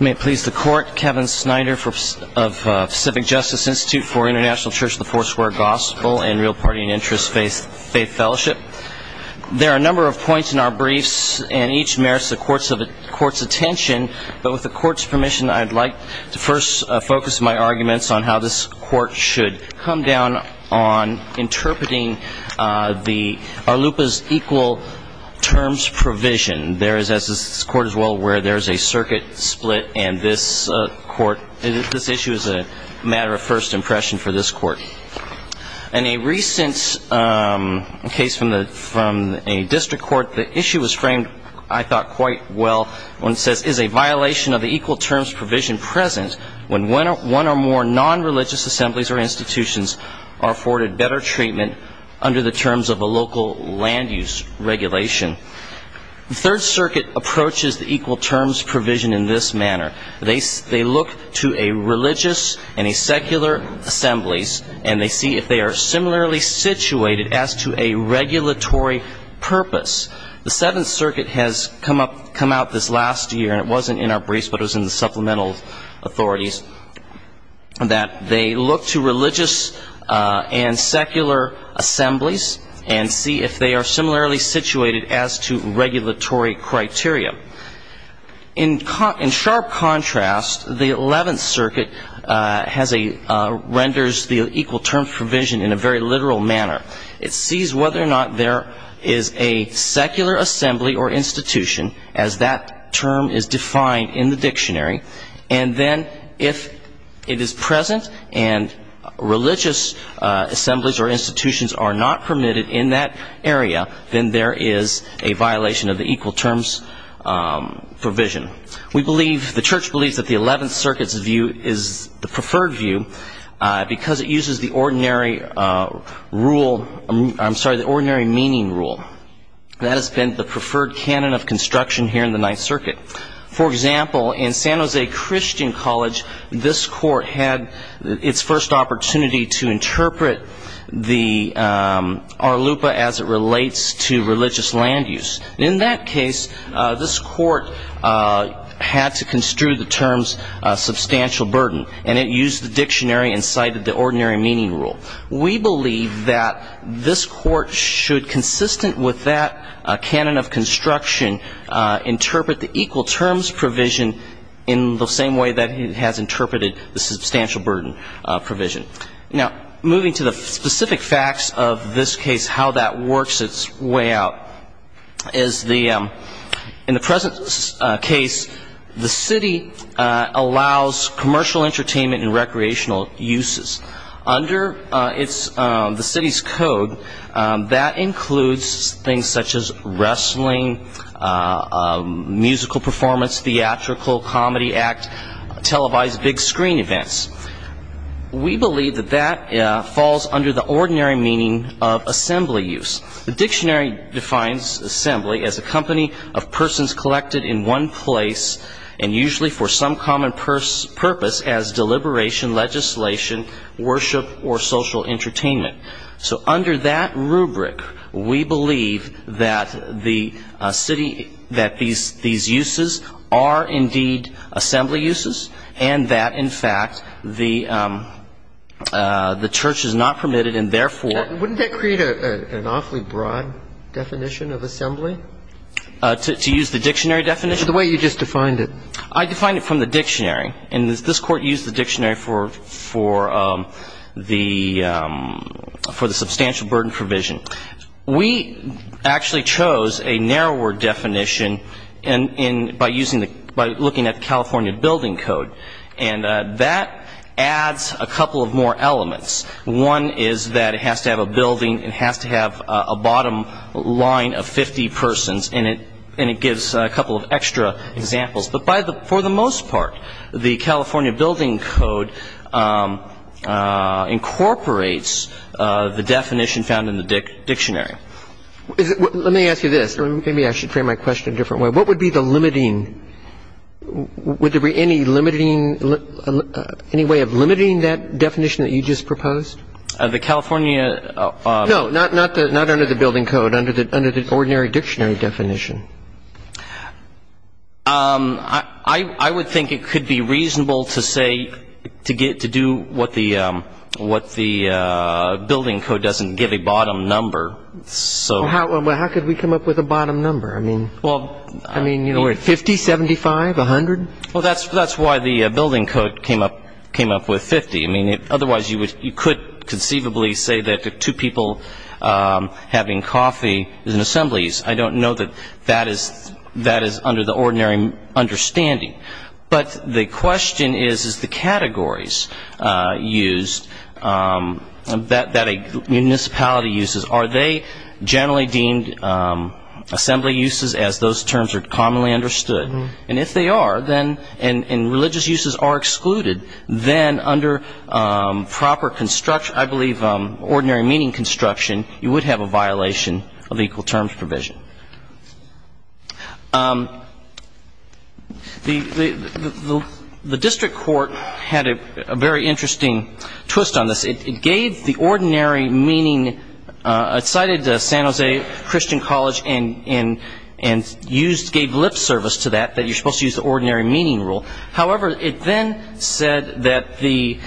May it please the court, Kevin Snyder of Civic Justice Institute for International Church of the Fourth Square Gospel and Real Party and Interest Faith Fellowship. There are a number of points in our briefs and each merits the court's attention, but with the court's permission I'd like to first focus my arguments on how this court should come down on interpreting the Arlupa's Equal Terms Provision. There is, as this court is well aware, there is a circuit split and this issue is a matter of first impression for this court. In a recent case from a district court, the issue was framed, I thought, quite well when it says, This is a violation of the Equal Terms Provision present when one or more non-religious assemblies or institutions are afforded better treatment under the terms of a local land-use regulation. The Third Circuit approaches the Equal Terms Provision in this manner. They look to a religious and a secular assemblies and they see if they are similarly situated as to a regulatory purpose. The Seventh Circuit has come out this last year, and it wasn't in our briefs but it was in the supplemental authorities, that they look to religious and secular assemblies and see if they are similarly situated as to regulatory criteria. In sharp contrast, the Eleventh Circuit renders the Equal Terms Provision in a very literal manner. It sees whether or not there is a secular assembly or institution, as that term is defined in the dictionary, and then if it is present and religious assemblies or institutions are not permitted in that area, then there is a violation of the Equal Terms Provision. The Church believes that the Eleventh Circuit's view is the preferred view because it uses the ordinary meaning rule. That has been the preferred canon of construction here in the Ninth Circuit. For example, in San Jose Christian College, this court had its first opportunity to interpret the Arlupa as it relates to religious land-use. In that case, this court had to construe the terms substantial burden, and it used the dictionary and cited the ordinary meaning rule. We believe that this court should, consistent with that canon of construction, interpret the Equal Terms Provision in the same way that it has interpreted the substantial burden provision. Now, moving to the specific facts of this case, how that works its way out. In the present case, the city allows commercial entertainment and recreational uses. Under the city's code, that includes things such as wrestling, musical performance, theatrical, comedy act, televised big-screen events. We believe that that falls under the ordinary meaning of assembly use. The dictionary defines assembly as a company of persons collected in one place, and usually for some common purpose as deliberation, legislation, worship, or social entertainment. So under that rubric, we believe that the city, that these uses are indeed assembly uses, and that, in fact, the church is not permitted and therefore Wouldn't that create an awfully broad definition of assembly? To use the dictionary definition? The way you just defined it. I defined it from the dictionary, and this court used the dictionary for the substantial burden provision. We actually chose a narrower definition by looking at the California Building Code, and that adds a couple of more elements. One is that it has to have a building, it has to have a bottom line of 50 persons, and it gives a couple of extra examples. But for the most part, the California Building Code incorporates the definition found in the dictionary. Let me ask you this. Maybe I should frame my question a different way. What would be the limiting – would there be any limiting – any way of limiting that definition that you just proposed? The California – No, not under the Building Code, under the ordinary dictionary definition. I would think it could be reasonable to say – to do what the Building Code doesn't give a bottom number. Well, how could we come up with a bottom number? I mean, 50, 75, 100? Well, that's why the Building Code came up with 50. I mean, otherwise you could conceivably say that two people having coffee is in assemblies. I don't know that that is under the ordinary understanding. But the question is, is the categories used that a municipality uses, are they generally deemed assembly uses as those terms are commonly understood? And if they are, and religious uses are excluded, then under proper construction – I believe ordinary meaning construction, you would have a violation of equal terms provision. The district court had a very interesting twist on this. It gave the ordinary meaning – it cited San Jose Christian College and gave lip service to that, that you're supposed to use the ordinary meaning rule. However, it then said that the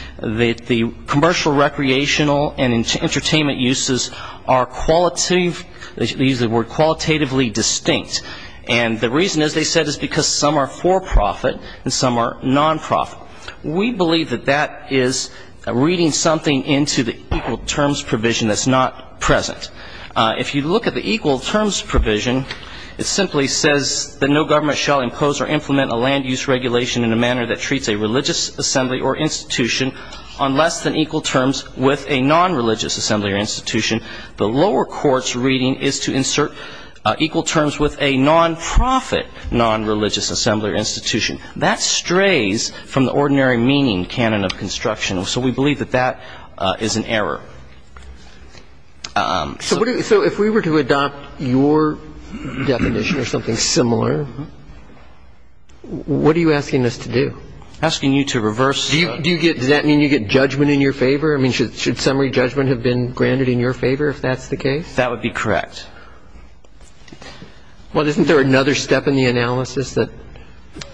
commercial, recreational, and entertainment uses are qualitatively distinct. And the reason, as they said, is because some are for profit and some are non-profit. We believe that that is reading something into the equal terms provision that's not present. If you look at the equal terms provision, it simply says that no government shall impose or implement a land use regulation in a manner that treats a religious assembly or institution on less than equal terms with a non-religious assembly or institution. The lower court's reading is to insert equal terms with a non-profit non-religious assembly or institution. That strays from the ordinary meaning canon of construction. So we believe that that is an error. So if we were to adopt your definition or something similar, what are you asking us to do? Asking you to reverse. Do you get – does that mean you get judgment in your favor? I mean, should summary judgment have been granted in your favor if that's the case? That would be correct. Well, isn't there another step in the analysis that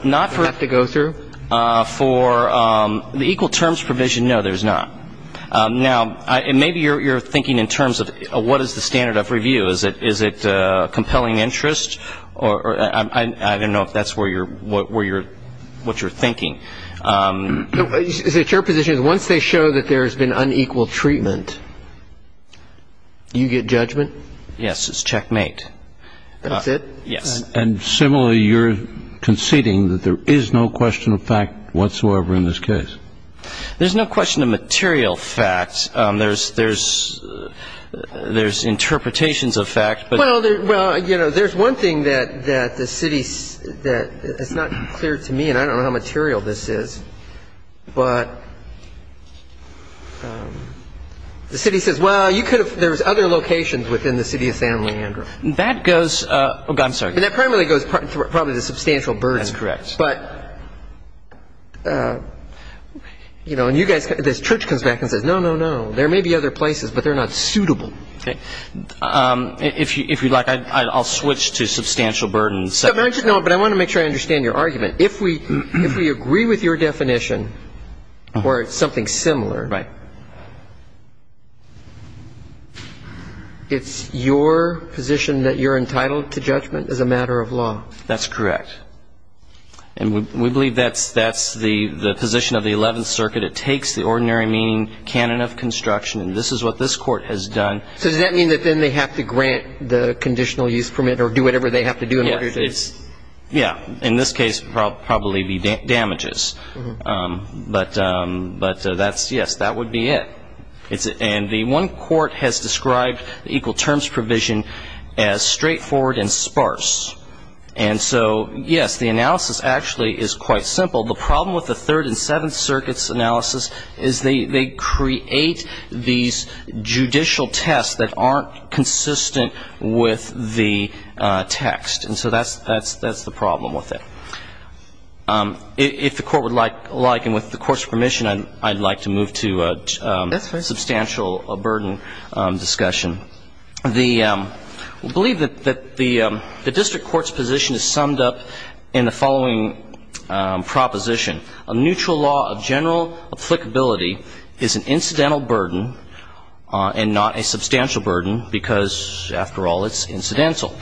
we have to go through? For the equal terms provision, no, there's not. Now, maybe you're thinking in terms of what is the standard of review. Is it compelling interest? I don't know if that's what you're thinking. It's your position that once they show that there's been unequal treatment, you get judgment? Yes, it's checkmate. That's it? Yes. And similarly, you're conceding that there is no question of fact whatsoever in this case. There's no question of material facts. There's interpretations of fact. Well, you know, there's one thing that the city – it's not clear to me, and I don't know how material this is, but the city says, well, you could have – there's other locations within the city of San Leandro. That goes – oh, God, I'm sorry. That primarily goes probably to substantial burden. That's correct. But, you know, and you guys – this church comes back and says, no, no, no. There may be other places, but they're not suitable. If you'd like, I'll switch to substantial burden. No, but I want to make sure I understand your argument. If we agree with your definition or something similar, it's your position that you're entitled to judgment as a matter of law. That's correct. And we believe that's the position of the Eleventh Circuit. It takes the ordinary meaning, canon of construction, and this is what this Court has done. So does that mean that then they have to grant the conditional use permit or do whatever they have to do in order to – Yeah. In this case, it would probably be damages. But that's – yes, that would be it. And the one court has described the equal terms provision as straightforward and sparse. And so, yes, the analysis actually is quite simple. The problem with the Third and Seventh Circuit's analysis is they create these judicial tests that aren't consistent with the text. And so that's the problem with it. If the Court would like, and with the Court's permission, I'd like to move to – I'd like to move to a more substantial burden discussion. We believe that the district court's position is summed up in the following proposition. A neutral law of general applicability is an incidental burden and not a substantial burden because, after all, it's incidental.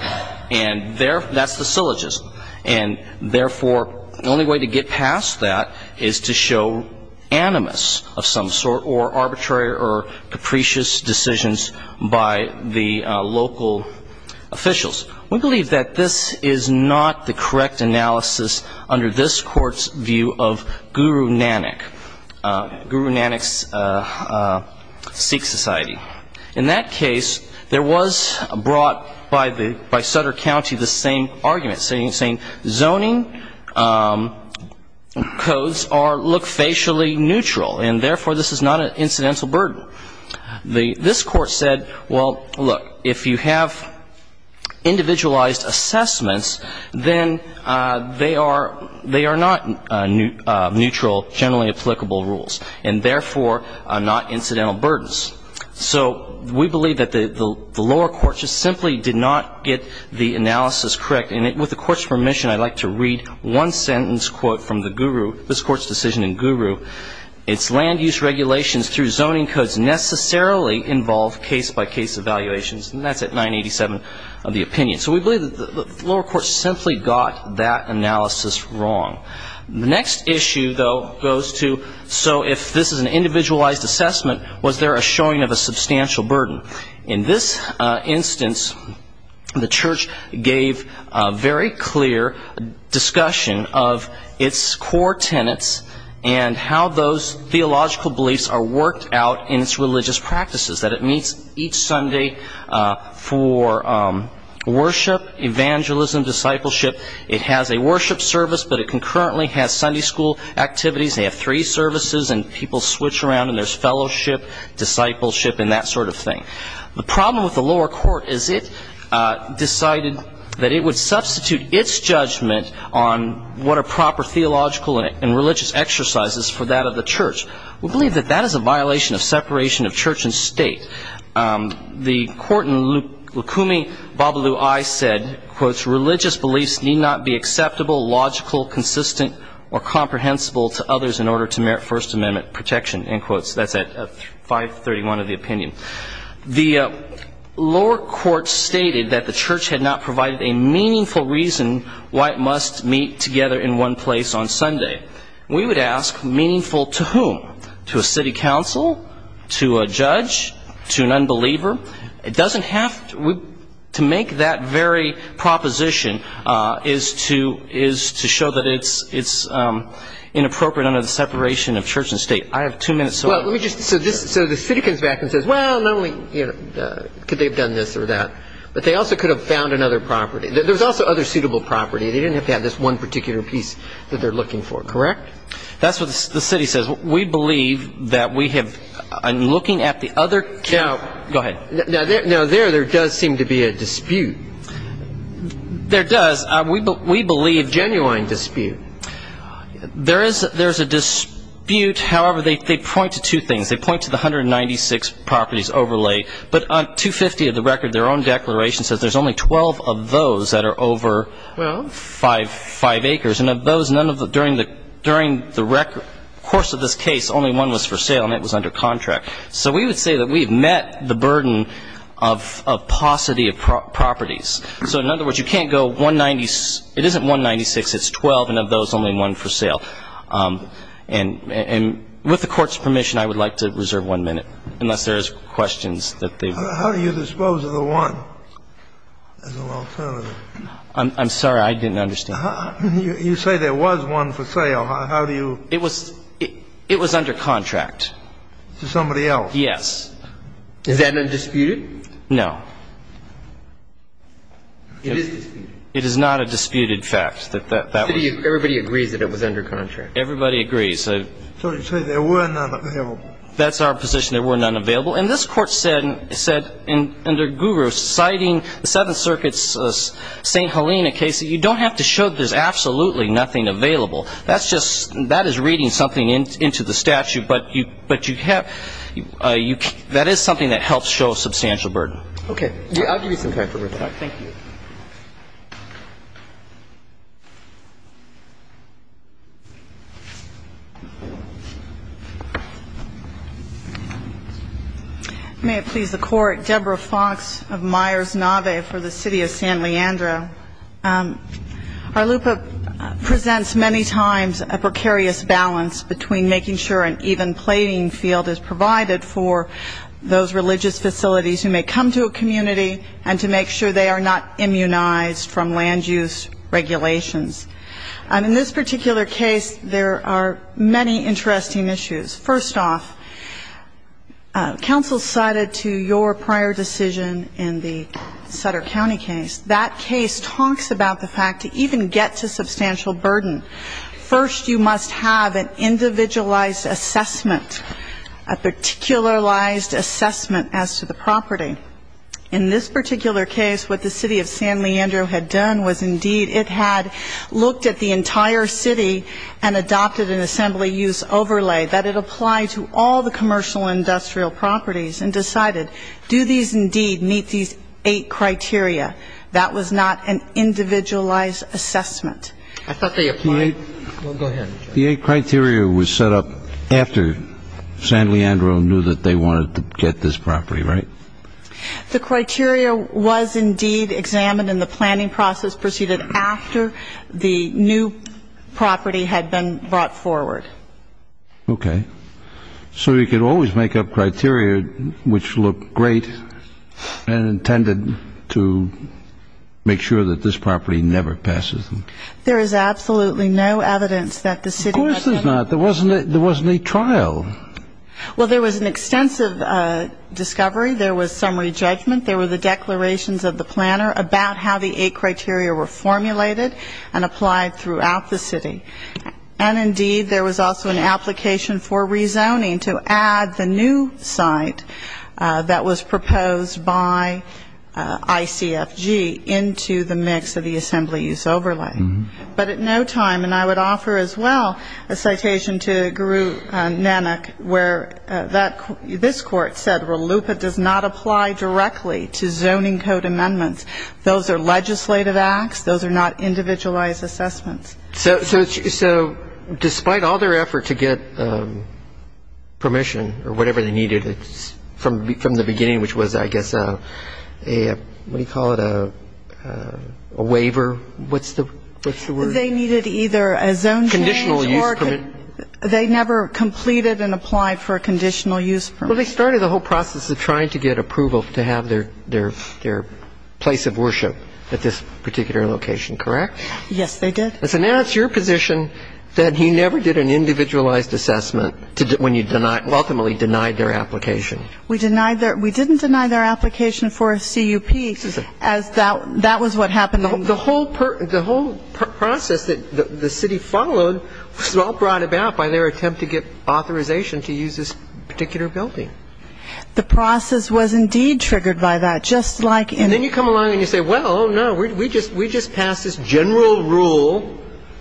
And that's the syllogism. And, therefore, the only way to get past that is to show animus of some sort or arbitrary or capricious decisions by the local officials. We believe that this is not the correct analysis under this Court's view of Guru Nanak, Guru Nanak's Sikh society. In that case, there was brought by the – by Sutter County the same argument, saying zoning codes are – look facially neutral, and, therefore, this is not an incidental burden. The – this Court said, well, look, if you have individualized assessments, then they are – they are not neutral, generally applicable rules, and, therefore, not incidental burdens. So we believe that the lower courts just simply did not get the analysis correct. And with the Court's permission, I'd like to read one sentence, quote, from the Guru – this Court's decision in Guru. It's land use regulations through zoning codes necessarily involve case-by-case evaluations. And that's at 987 of the opinion. So we believe that the lower courts simply got that analysis wrong. The next issue, though, goes to, so if this is an individualized assessment, was there a showing of a substantial burden? In this instance, the Church gave a very clear discussion of its core tenets and how those theological beliefs are worked out in its religious practices, that it meets each Sunday for worship, evangelism, discipleship. It has a worship service, but it concurrently has Sunday school activities. They have three services, and people switch around, and there's fellowship, discipleship, and that sort of thing. The problem with the lower court is it decided that it would substitute its judgment on what are proper theological and religious exercises for that of the Church. We believe that that is a violation of separation of church and state. The court in Lukumi Babalu-Ai said, "...religious beliefs need not be acceptable, logical, consistent, or comprehensible to others in order to merit First Amendment protection." That's at 531 of the opinion. The lower court stated that the Church had not provided a meaningful reason why it must meet together in one place on Sunday. We would ask, meaningful to whom? To a city council? To a judge? To an unbeliever? To make that very proposition is to show that it's inappropriate under the separation of church and state. I have two minutes. So the city comes back and says, well, not only could they have done this or that, but they also could have found another property. There's also other suitable property. They didn't have to have this one particular piece that they're looking for, correct? That's what the city says. We believe that we have been looking at the other two. Now, there does seem to be a dispute. There does. We believe genuine dispute. There is a dispute. However, they point to two things. They point to the 196 properties overlay. But on 250 of the record, their own declaration says there's only 12 of those that are over. Well. Five acres. And of those, none of the – during the record – course of this case, only one was for sale, and it was under contract. So we would say that we have met the burden of paucity of properties. So in other words, you can't go 196 – it isn't 196, it's 12, and of those, only one for sale. And with the Court's permission, I would like to reserve one minute, unless there is questions that they've – How do you dispose of the one as an alternative? I'm sorry. I didn't understand. You say there was one for sale. How do you – It was – it was under contract. To somebody else. Yes. Is that undisputed? No. It is disputed. It is not a disputed fact that that was – Everybody agrees that it was under contract. Everybody agrees. So you say there were none available. That's our position. There were none available. Well, and this Court said under Guru, citing the Seventh Circuit's St. Helena case, that you don't have to show that there's absolutely nothing available. That's just – that is reading something into the statute. But you have – that is something that helps show a substantial burden. Okay. I'll give you some time for reflection. Thank you. May it please the Court. Deborah Fox of Myers-Naveh for the City of San Leandro. Our LUPA presents many times a precarious balance between making sure an even plating field is provided for those religious facilities who may come to a community and to make sure they are not immunized from land use regulations. In this particular case, there are many interesting issues. First off, counsel cited to your prior decision in the Sutter County case, that case talks about the fact to even get to substantial burden, first you must have an individualized assessment, a particularized assessment as to the property. In this particular case, what the City of San Leandro had done was indeed it had looked at the entire city and adopted an assembly use overlay that it applied to all the commercial industrial properties and decided do these indeed meet these eight criteria. That was not an individualized assessment. I thought they applied – well, go ahead. The eight criteria was set up after San Leandro knew that they wanted to get this property, right? The criteria was indeed examined in the planning process proceeded after the new property had been brought forward. Okay. So you could always make up criteria which looked great and intended to make sure that this property never passes. There is absolutely no evidence that the city – Of course there's not. There wasn't a trial. Well, there was an extensive discovery. There was summary judgment. There were the declarations of the planner about how the eight criteria were formulated and applied throughout the city. And indeed there was also an application for rezoning to add the new site that was proposed by ICFG into the mix of the assembly use overlay. But at no time – and I would offer as well a citation to Guru Nanak where this court said RLUIPA does not apply directly to zoning code amendments. Those are legislative acts. Those are not individualized assessments. So despite all their effort to get permission or whatever they needed from the beginning, which was I guess a – what do you call it, a waiver? What's the word? They needed either a zone change or – Conditional use permit. They never completed and applied for a conditional use permit. Well, they started the whole process of trying to get approval to have their place of worship at this particular location, correct? Yes, they did. And so now it's your position that he never did an individualized assessment when you ultimately denied their application. We didn't deny their application for a CUP as that was what happened. The whole process that the city followed was all brought about by their attempt to get authorization to use this particular building. The process was indeed triggered by that, just like in – And then you come along and you say, well, no, we just passed this general rule,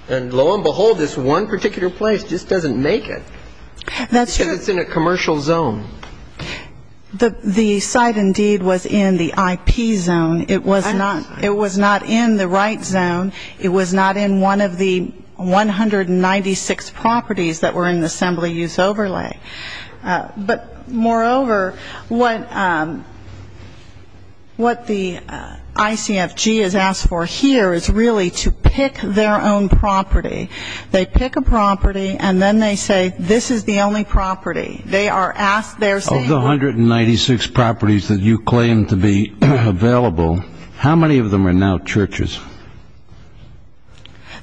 and lo and behold, this one particular place just doesn't make it. That's true. The site indeed was in the IP zone. It was not in the right zone. It was not in one of the 196 properties that were in the assembly use overlay. But moreover, what the ICFG has asked for here is really to pick their own property. They pick a property, and then they say, this is the only property. Of the 196 properties that you claim to be available, how many of them are now churches?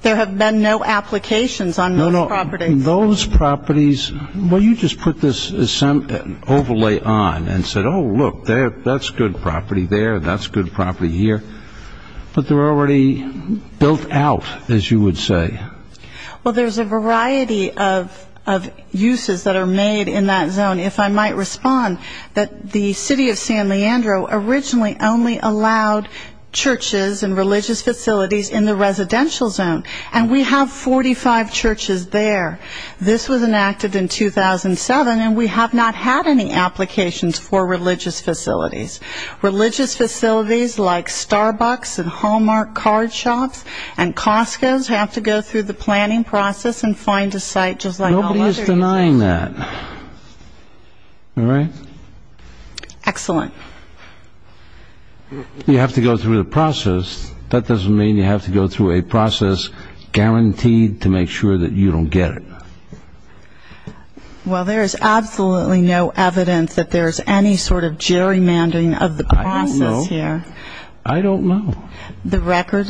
There have been no applications on those properties. No, no, those properties – well, you just put this overlay on and said, oh, look, that's good property there, that's good property here. But they're already built out, as you would say. Well, there's a variety of uses that are made in that zone. If I might respond, the city of San Leandro originally only allowed churches and religious facilities in the residential zone, and we have 45 churches there. This was enacted in 2007, and we have not had any applications for religious facilities. Religious facilities like Starbucks and Hallmark card shops and Costco's have to go through the planning process and find a site just like all other uses. Nobody is denying that. All right? Excellent. You have to go through the process. That doesn't mean you have to go through a process guaranteed to make sure that you don't get it. Well, there is absolutely no evidence that there is any sort of gerrymandering of the process here. I don't know. I don't know. The record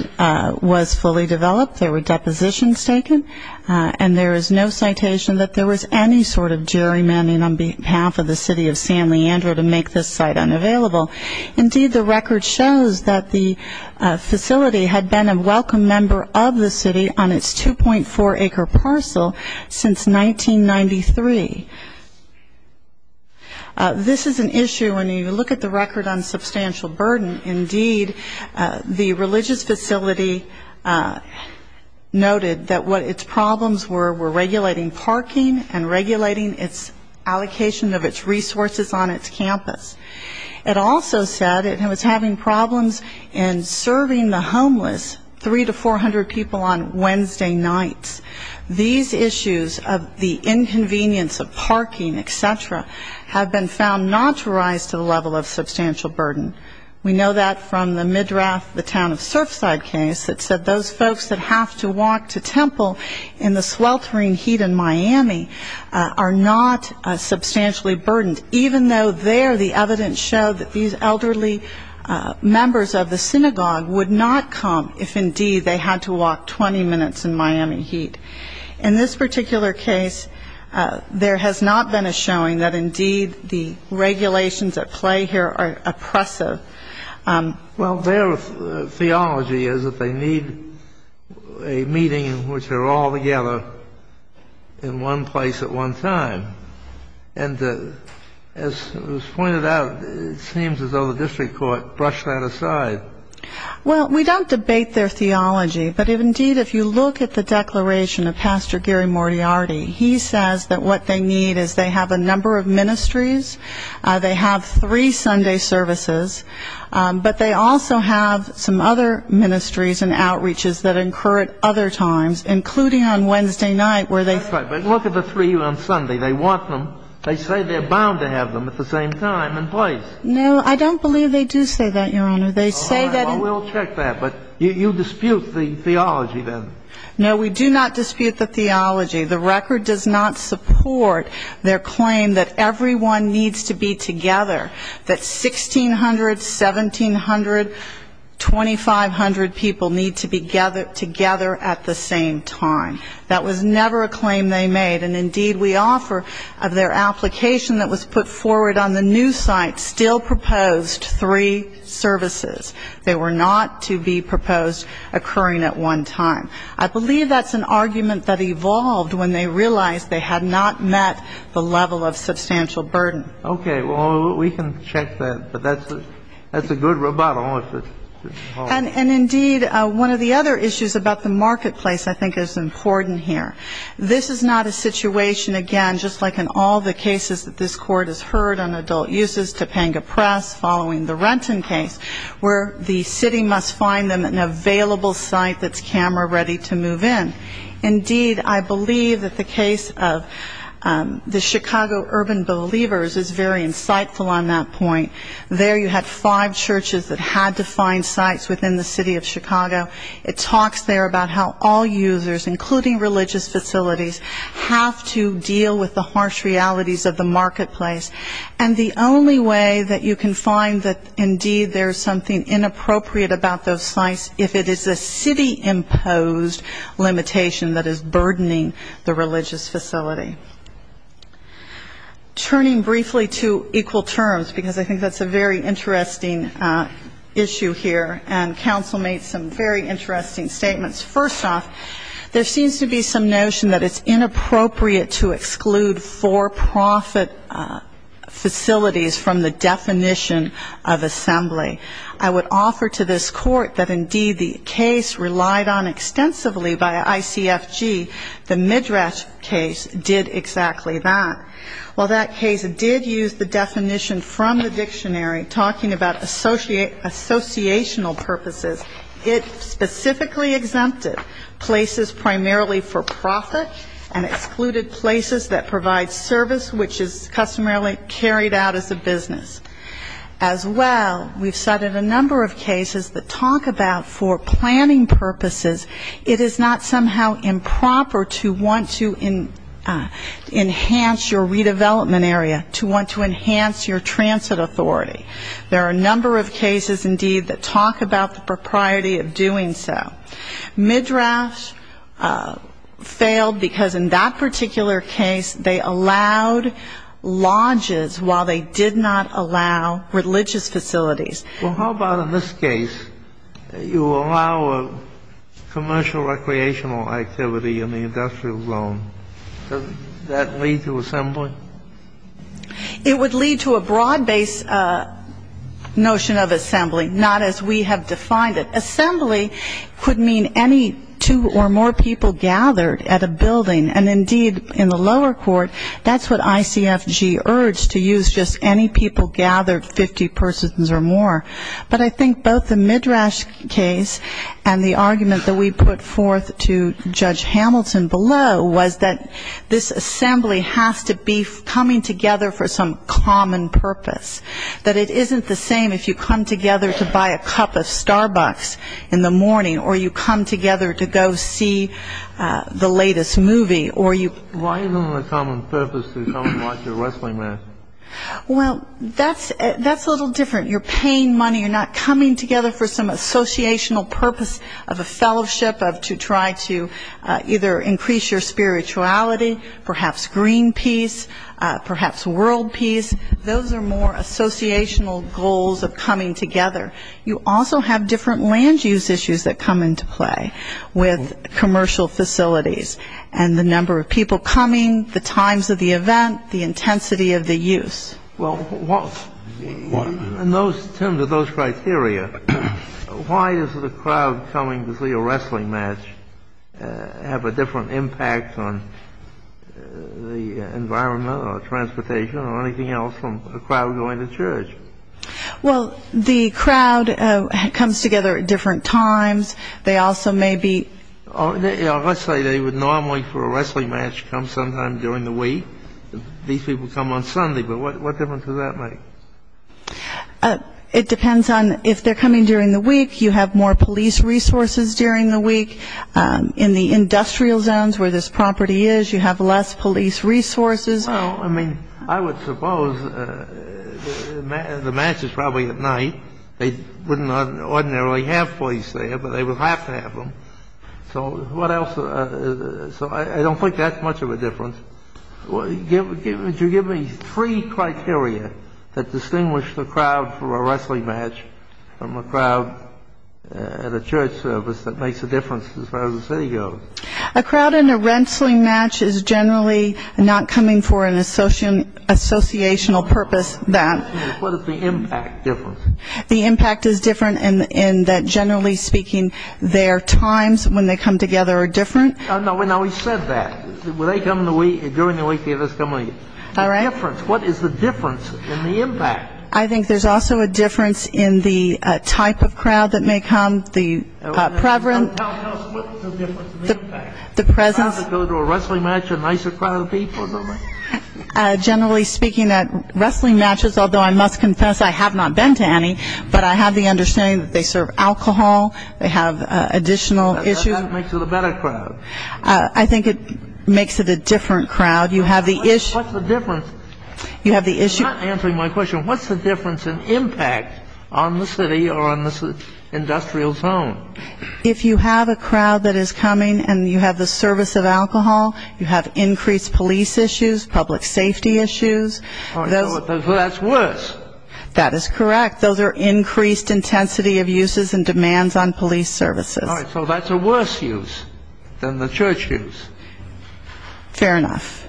was fully developed. There were depositions taken, and there is no citation that there was any sort of gerrymandering on behalf of the city of San Leandro to make this site unavailable. Indeed, the record shows that the facility had been a welcome member of the city on its 2.4-acre parcel since 1993. This is an issue when you look at the record on substantial burden. Indeed, the religious facility noted that what its problems were were regulating parking and regulating its allocation of its resources on its campus. It also said it was having problems in serving the homeless, 300 to 400 people on Wednesday nights. These issues of the inconvenience of parking, et cetera, have been found not to rise to the level of substantial burden. We know that from the Midrath, the town of Surfside case that said those folks that have to walk to Temple in the sweltering heat in Miami are not substantially burdened, even though there the evidence showed that these elderly members of the synagogue would not come if, indeed, they had to walk 20 minutes in Miami heat. In this particular case, there has not been a showing that, indeed, the regulations at play here are oppressive. Well, their theology is that they need a meeting in which they're all together in one place at one time. And as was pointed out, it seems as though the district court brushed that aside. Well, we don't debate their theology. But, indeed, if you look at the declaration of Pastor Gary Mortiarty, he says that what they need is they have a number of ministries, they have three Sunday services, but they also have some other ministries and outreaches that incur at other times, including on Wednesday night where they- That's right, but look at the three on Sunday. They want them. They say they're bound to have them at the same time and place. No, I don't believe they do say that, Your Honor. They say that- All right, well, we'll check that. But you dispute the theology, then? No, we do not dispute the theology. The record does not support their claim that everyone needs to be together, that 1,600, 1,700, 2,500 people need to be together at the same time. That was never a claim they made. And, indeed, we offer of their application that was put forward on the new site still proposed three services. They were not to be proposed occurring at one time. I believe that's an argument that evolved when they realized they had not met the level of substantial burden. Okay. Well, we can check that. But that's a good rebuttal. And, indeed, one of the other issues about the marketplace I think is important here. This is not a situation, again, just like in all the cases that this Court has heard on adult uses, Topanga Press, following the Renton case, where the city must find them an available site that's camera-ready to move in. Indeed, I believe that the case of the Chicago Urban Believers is very insightful on that point. There you had five churches that had to find sites within the city of Chicago. It talks there about how all users, including religious facilities, have to deal with the harsh realities of the marketplace. And the only way that you can find that, indeed, there's something inappropriate about those sites, if it is a city-imposed limitation that is burdening the religious facility. Turning briefly to equal terms, because I think that's a very interesting issue here, and counsel made some very interesting statements. First off, there seems to be some notion that it's inappropriate to exclude for-profit facilities from the definition of assembly. I would offer to this Court that, indeed, the case relied on extensively by ICFG, the Midrash case did exactly that. While that case did use the definition from the dictionary, talking about associational purposes, it specifically exempted places primarily for-profit and excluded places that provide service which is customarily carried out as a business. As well, we've cited a number of cases that talk about for planning purposes, it is not somehow improper to want to enhance your redevelopment area, to want to enhance your transit authority. There are a number of cases, indeed, that talk about the propriety of doing so. Midrash failed because in that particular case they allowed lodges while they did not allow religious facilities. Well, how about in this case you allow a commercial recreational activity in the industrial zone? Does that lead to assembly? It would lead to a broad-based notion of assembly, not as we have defined it. Assembly could mean any two or more people gathered at a building. And, indeed, in the lower court, that's what ICFG urged, to use just any people gathered, 50 persons or more. But I think both the Midrash case and the argument that we put forth to Judge Hamilton below was that this assembly has to be coming together for some common purpose. That it isn't the same if you come together to buy a cup of Starbucks in the morning or you come together to go see the latest movie. Why isn't it a common purpose to come and watch a wrestling match? Well, that's a little different. You're paying money, you're not coming together for some associational purpose of a fellowship, to try to either increase your spirituality, perhaps green peace, perhaps world peace. Those are more associational goals of coming together. You also have different land use issues that come into play with commercial facilities and the number of people coming, the times of the event, the intensity of the use. Well, in those terms, in those criteria, why is it a crowd coming to see a wrestling match have a different impact on the environment or transportation or anything else from a crowd going to church? Well, the crowd comes together at different times. They also may be... Let's say they would normally for a wrestling match come sometime during the week. These people come on Sunday, but what difference does that make? It depends on if they're coming during the week, you have more police resources during the week. In the industrial zones where this property is, you have less police resources. Well, I mean, I would suppose the match is probably at night. They wouldn't ordinarily have police there, but they would have to have them. So what else? So I don't think that's much of a difference. Would you give me three criteria that distinguish the crowd for a wrestling match from a crowd at a church service that makes a difference as far as the city goes? A crowd in a wrestling match is generally not coming for an associational purpose. What is the impact difference? The impact is different in that, generally speaking, their times when they come together are different. Now, we said that. They come during the week, they just come later. All right. Difference. What is the difference in the impact? I think there's also a difference in the type of crowd that may come, the preference. Tell us what's the difference in the impact. The presence. A crowd that goes to a wrestling match, a nicer crowd of people or something? Generally speaking, at wrestling matches, although I must confess I have not been to any, but I have the understanding that they serve alcohol, they have additional issues. That's what makes it a better crowd. I think it makes it a different crowd. You have the issue. What's the difference? You have the issue. You're not answering my question. What's the difference in impact on the city or on the industrial zone? If you have a crowd that is coming and you have the service of alcohol, you have increased police issues, public safety issues. All right. So that's worse. That is correct. Those are increased intensity of uses and demands on police services. All right. So that's a worse use than the church use. Fair enough.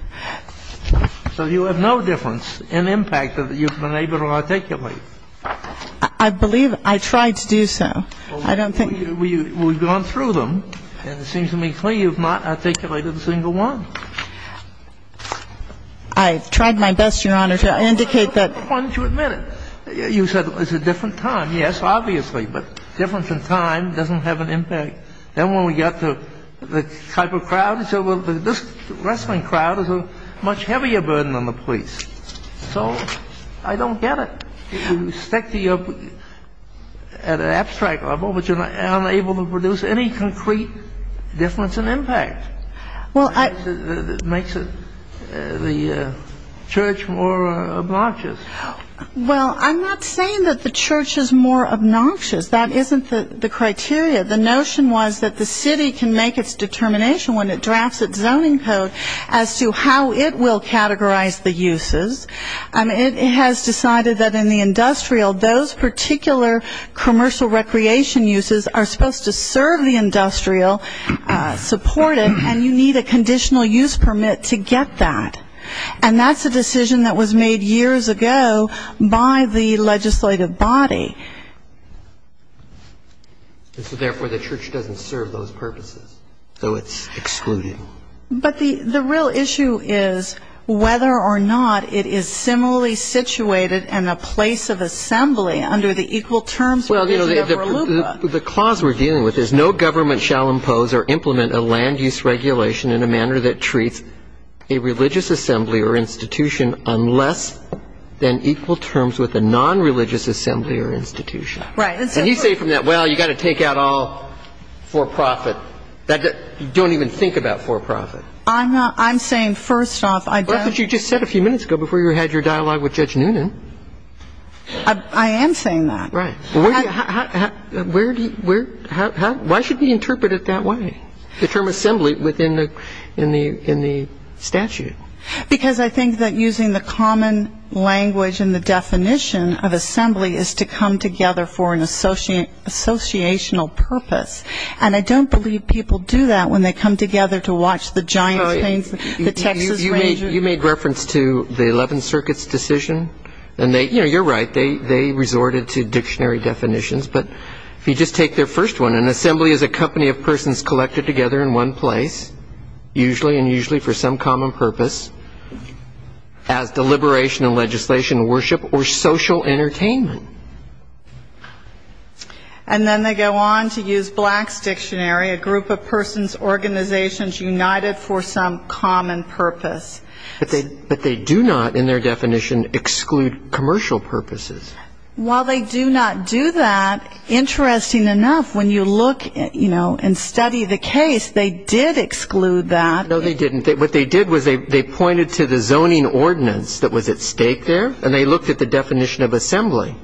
So you have no difference in impact that you've been able to articulate. I believe I tried to do so. Well, we've gone through them, and it seems to me clear you've not articulated a single one. I've tried my best, Your Honor, to indicate that. I wanted to admit it. You said it's a different time. Yes, obviously. But difference in time doesn't have an impact. Then when we got to the type of crowd, this wrestling crowd is a much heavier burden on the police. So I don't get it. You stack the up at an abstract level, but you're unable to produce any concrete difference in impact. Well, I — It makes the church more obnoxious. Well, I'm not saying that the church is more obnoxious. That isn't the criteria. The notion was that the city can make its determination when it drafts its zoning code as to how it will categorize the uses. It has decided that in the industrial, those particular commercial recreation uses are supposed to serve the industrial, support it, and you need a conditional use permit to get that. And that's a decision that was made years ago by the legislative body. Therefore, the church doesn't serve those purposes, so it's excluded. But the real issue is whether or not it is similarly situated in a place of assembly under the equal terms. Well, you know, the clause we're dealing with is no government shall impose or implement a land use regulation in a manner that treats a religious assembly or institution on less than equal terms with a non-religious assembly or institution. And you say from that, well, you've got to take out all for profit. You don't even think about for profit. I'm saying, first off, I don't. But you just said a few minutes ago before you had your dialogue with Judge Noonan. I am saying that. Right. Why should we interpret it that way, the term assembly within the statute? Because I think that using the common language and the definition of assembly is to come together for an associational purpose. And I don't believe people do that when they come together to watch the Giants games, the Texas Rangers. You made reference to the Eleventh Circuit's decision. And, you know, you're right. They resorted to dictionary definitions. But if you just take their first one, an assembly is a company of persons collected together in one place, usually, and usually for some common purpose as deliberation and legislation, worship, or social entertainment. And then they go on to use Black's Dictionary, a group of persons organizations united for some common purpose. But they do not, in their definition, exclude commercial purposes. While they do not do that, interesting enough, when you look and study the case, they did exclude that. No, they didn't. What they did was they pointed to the zoning ordinance that was at stake there, and they looked at the definition of assembly.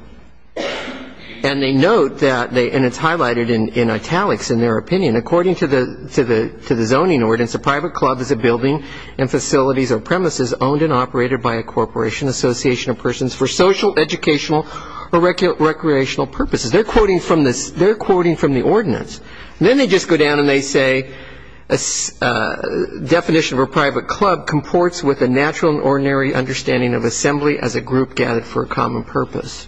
And they note that, and it's highlighted in italics in their opinion, according to the zoning ordinance, a private club is a building and facilities or premises owned and operated by a corporation, association of persons, for social, educational, or recreational purposes. They're quoting from the ordinance. And then they just go down and they say, a definition of a private club comports with a natural and ordinary understanding of assembly as a group gathered for a common purpose.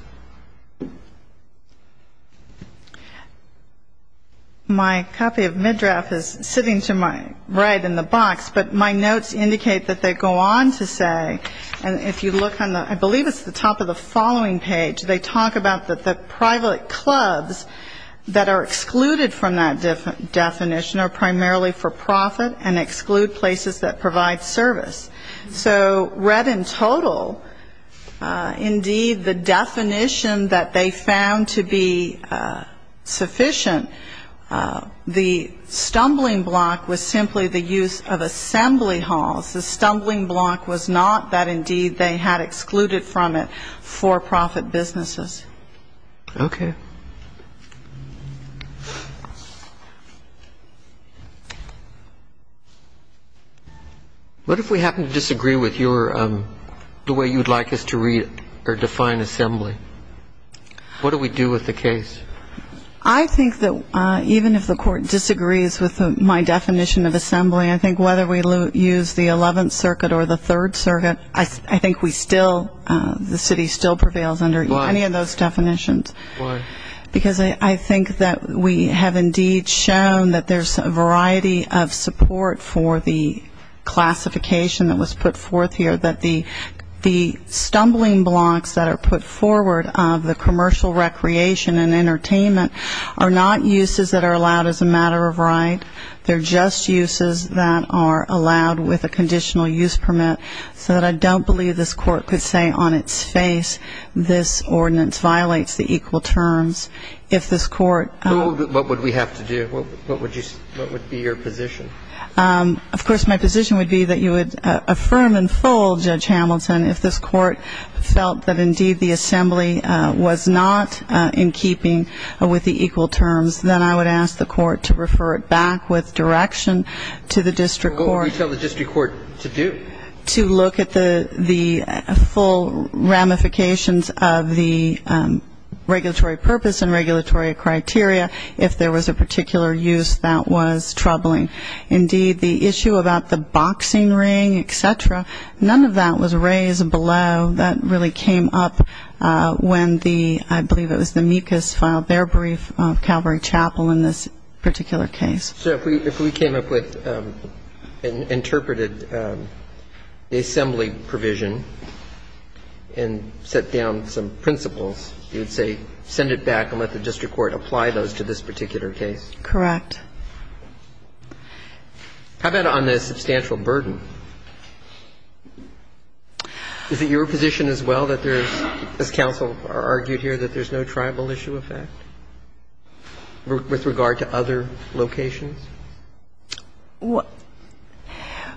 My copy of MidDraft is sitting to my right in the box, but my notes indicate that they go on to say, and if you look on the, I believe it's the top of the following page, they talk about the private clubs that are excluded from that definition are primarily for profit and exclude places that provide service. So read in total, indeed, the definition that they found to be sufficient, the stumbling block was simply the use of assembly halls. The stumbling block was not that, indeed, they had excluded from it for-profit businesses. Okay. Thank you. What if we happen to disagree with your, the way you would like us to read or define assembly? What do we do with the case? I think that even if the court disagrees with my definition of assembly, I think whether we use the Eleventh Circuit or the Third Circuit, I think we still, the city still prevails under any of those definitions. Why? Because I think that we have, indeed, shown that there's a variety of support for the classification that was put forth here, that the stumbling blocks that are put forward of the commercial recreation and entertainment are not uses that are allowed as a matter of right. They're just uses that are allowed with a conditional use permit, so that I don't believe this court could say on its face, this ordinance violates the equal terms. If this court- What would we have to do? What would be your position? Of course, my position would be that you would affirm in full, Judge Hamilton, if this court felt that, indeed, the assembly was not in keeping with the equal terms, then I would ask the court to refer it back with direction to the district court- What would you tell the district court to do? To look at the full ramifications of the regulatory purpose and regulatory criteria if there was a particular use that was troubling. Indeed, the issue about the boxing ring, et cetera, none of that was raised below. That really came up when the, I believe it was the Mucus, filed their brief of Calvary Chapel in this particular case. So if we came up with and interpreted the assembly provision and set down some principles, you would say send it back and let the district court apply those to this particular case? Correct. How about on the substantial burden? Is it your position as well that there is, as counsel argued here, that there's no tribal issue effect with regard to other locations?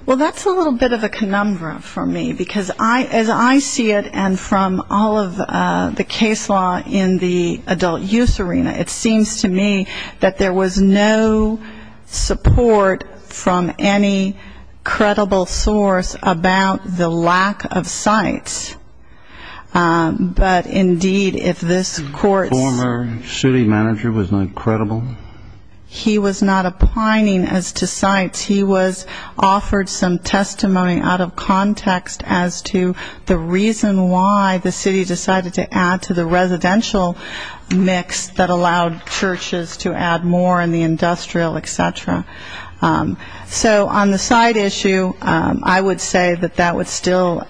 Well, that's a little bit of a conundrum for me because as I see it and from all of the case law in the adult use arena, it seems to me that there was no support from any credible source about the lack of sites. But, indeed, if this court's- The former city manager was not credible? He was not applying as to sites. He was offered some testimony out of context as to the reason why the city decided to add to the residential mix that allowed churches to add more in the industrial, et cetera. So on the site issue, I would say that that would still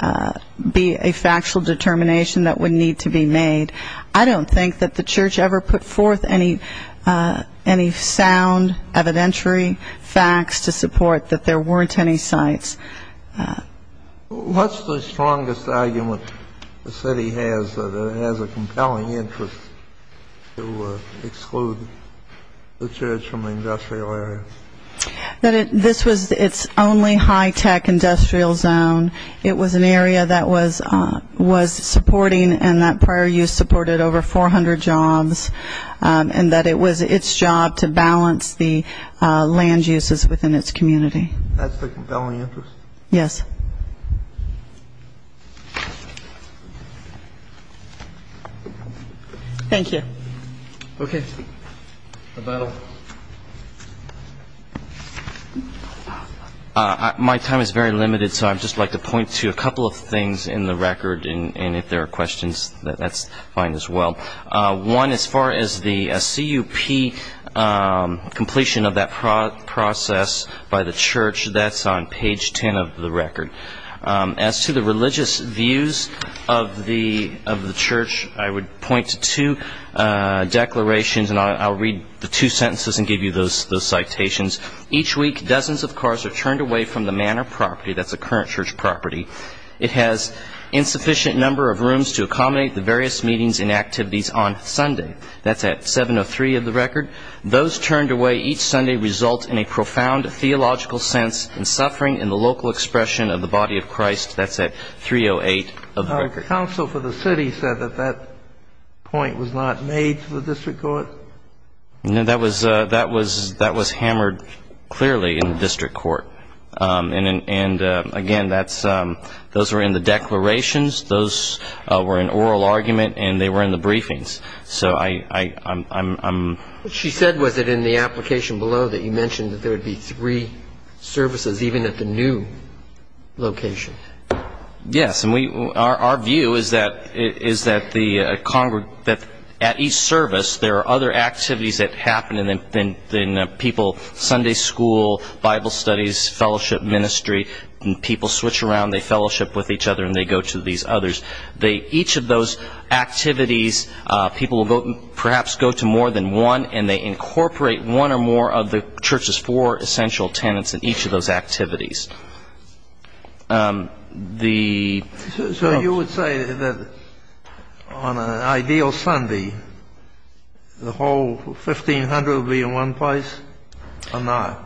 be a factual determination that would need to be made. I don't think that the church ever put forth any sound evidentiary facts to support that there weren't any sites. What's the strongest argument the city has that it has a compelling interest to exclude the church from the industrial area? That this was its only high-tech industrial zone. It was an area that was supporting and that prior use supported over 400 jobs and that it was its job to balance the land uses within its community. That's the compelling interest? Yes. Thank you. Okay. Rebuttal. My time is very limited, so I'd just like to point to a couple of things in the record. And if there are questions, that's fine as well. One, as far as the CUP completion of that process by the church, that's on page 10 of the record. As to the religious views of the church, I would point to two declarations, and I'll read the two sentences and give you those citations. Each week, dozens of cars are turned away from the manor property. That's a current church property. It has insufficient number of rooms to accommodate the various meetings and activities on Sunday. That's at 703 of the record. Those turned away each Sunday result in a profound theological sense and suffering in the local expression of the body of Christ. That's at 308 of the record. Counsel for the city said that that point was not made to the district court. No, that was hammered clearly in the district court. And, again, those were in the declarations. Those were in oral argument, and they were in the briefings. What she said was that in the application below that you mentioned that there would be three services even at the new location. Yes, and our view is that at each service there are other activities that happen than people Sunday school, Bible studies, fellowship ministry, and people switch around, they fellowship with each other, and they go to these others. Each of those activities, people will perhaps go to more than one, and they incorporate one or more of the church's four essential tenants in each of those activities. So you would say that on an ideal Sunday the whole 1,500 would be in one place or not?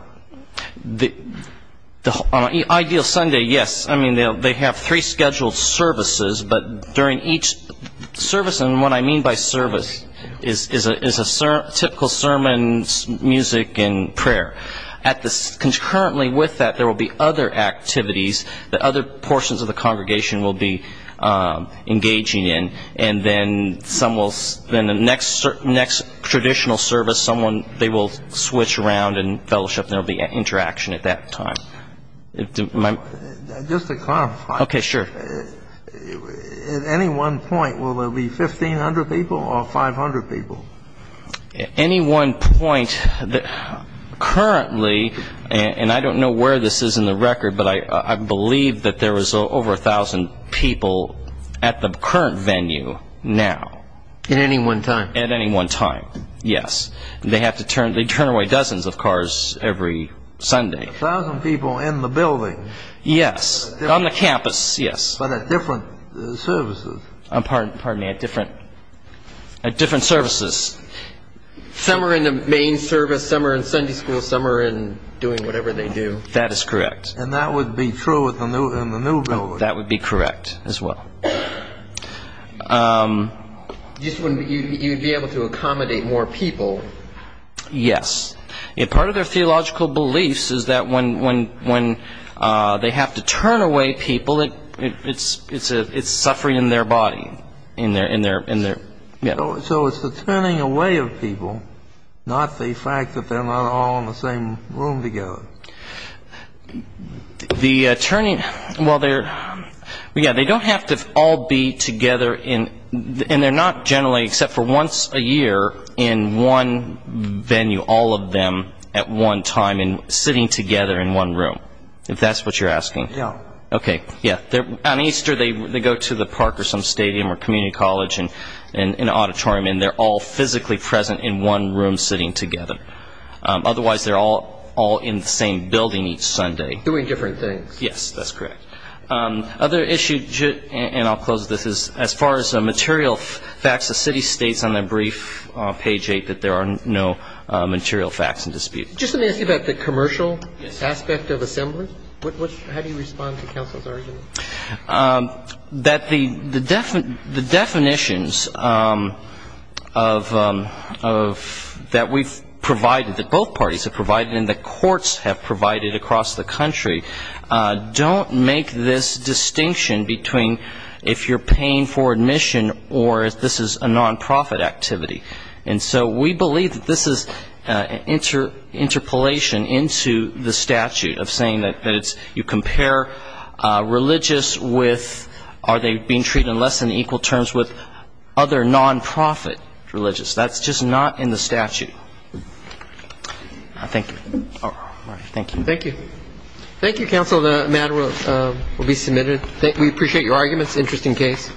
On an ideal Sunday, yes. I mean, they have three scheduled services, but during each service, and what I mean by service is a typical sermon, music, and prayer. Concurrently with that, there will be other activities that other portions of the congregation will be engaging in, and then the next traditional service, they will switch around and fellowship, and there will be interaction at that time. Just to clarify. Okay, sure. At any one point, will there be 1,500 people or 500 people? At any one point, currently, and I don't know where this is in the record, but I believe that there is over 1,000 people at the current venue now. At any one time? At any one time, yes. They turn away dozens of cars every Sunday. 1,000 people in the building. Yes, on the campus, yes. But at different services. Pardon me, at different services. Some are in the main service, some are in Sunday school, some are in doing whatever they do. That is correct. And that would be true in the new building. That would be correct as well. You'd be able to accommodate more people. Yes. Part of their theological beliefs is that when they have to turn away people, it's suffering in their body. So it's the turning away of people, not the fact that they're not all in the same room together. The turning, well, they don't have to all be together in, and they're not generally except for once a year in one venue, all of them at one time and sitting together in one room, if that's what you're asking. Yes. Okay, yes. On Easter, they go to the park or some stadium or community college in an auditorium, and they're all physically present in one room sitting together. Otherwise, they're all in the same building each Sunday. Doing different things. Yes, that's correct. Other issues, and I'll close with this, is as far as material facts, the city states on their brief, page 8, that there are no material facts in dispute. Just let me ask you about the commercial aspect of assembly. How do you respond to counsel's argument? That the definitions of that we've provided, that both parties have provided and that courts have provided across the country, don't make this distinction between if you're paying for admission or if this is a nonprofit activity. And so we believe that this is an interpolation into the statute of saying that you compare religious with are they being treated in less than equal terms with other nonprofit religious. That's just not in the statute. Thank you. Thank you. Thank you. Thank you, counsel. The matter will be submitted. We appreciate your arguments. Interesting case.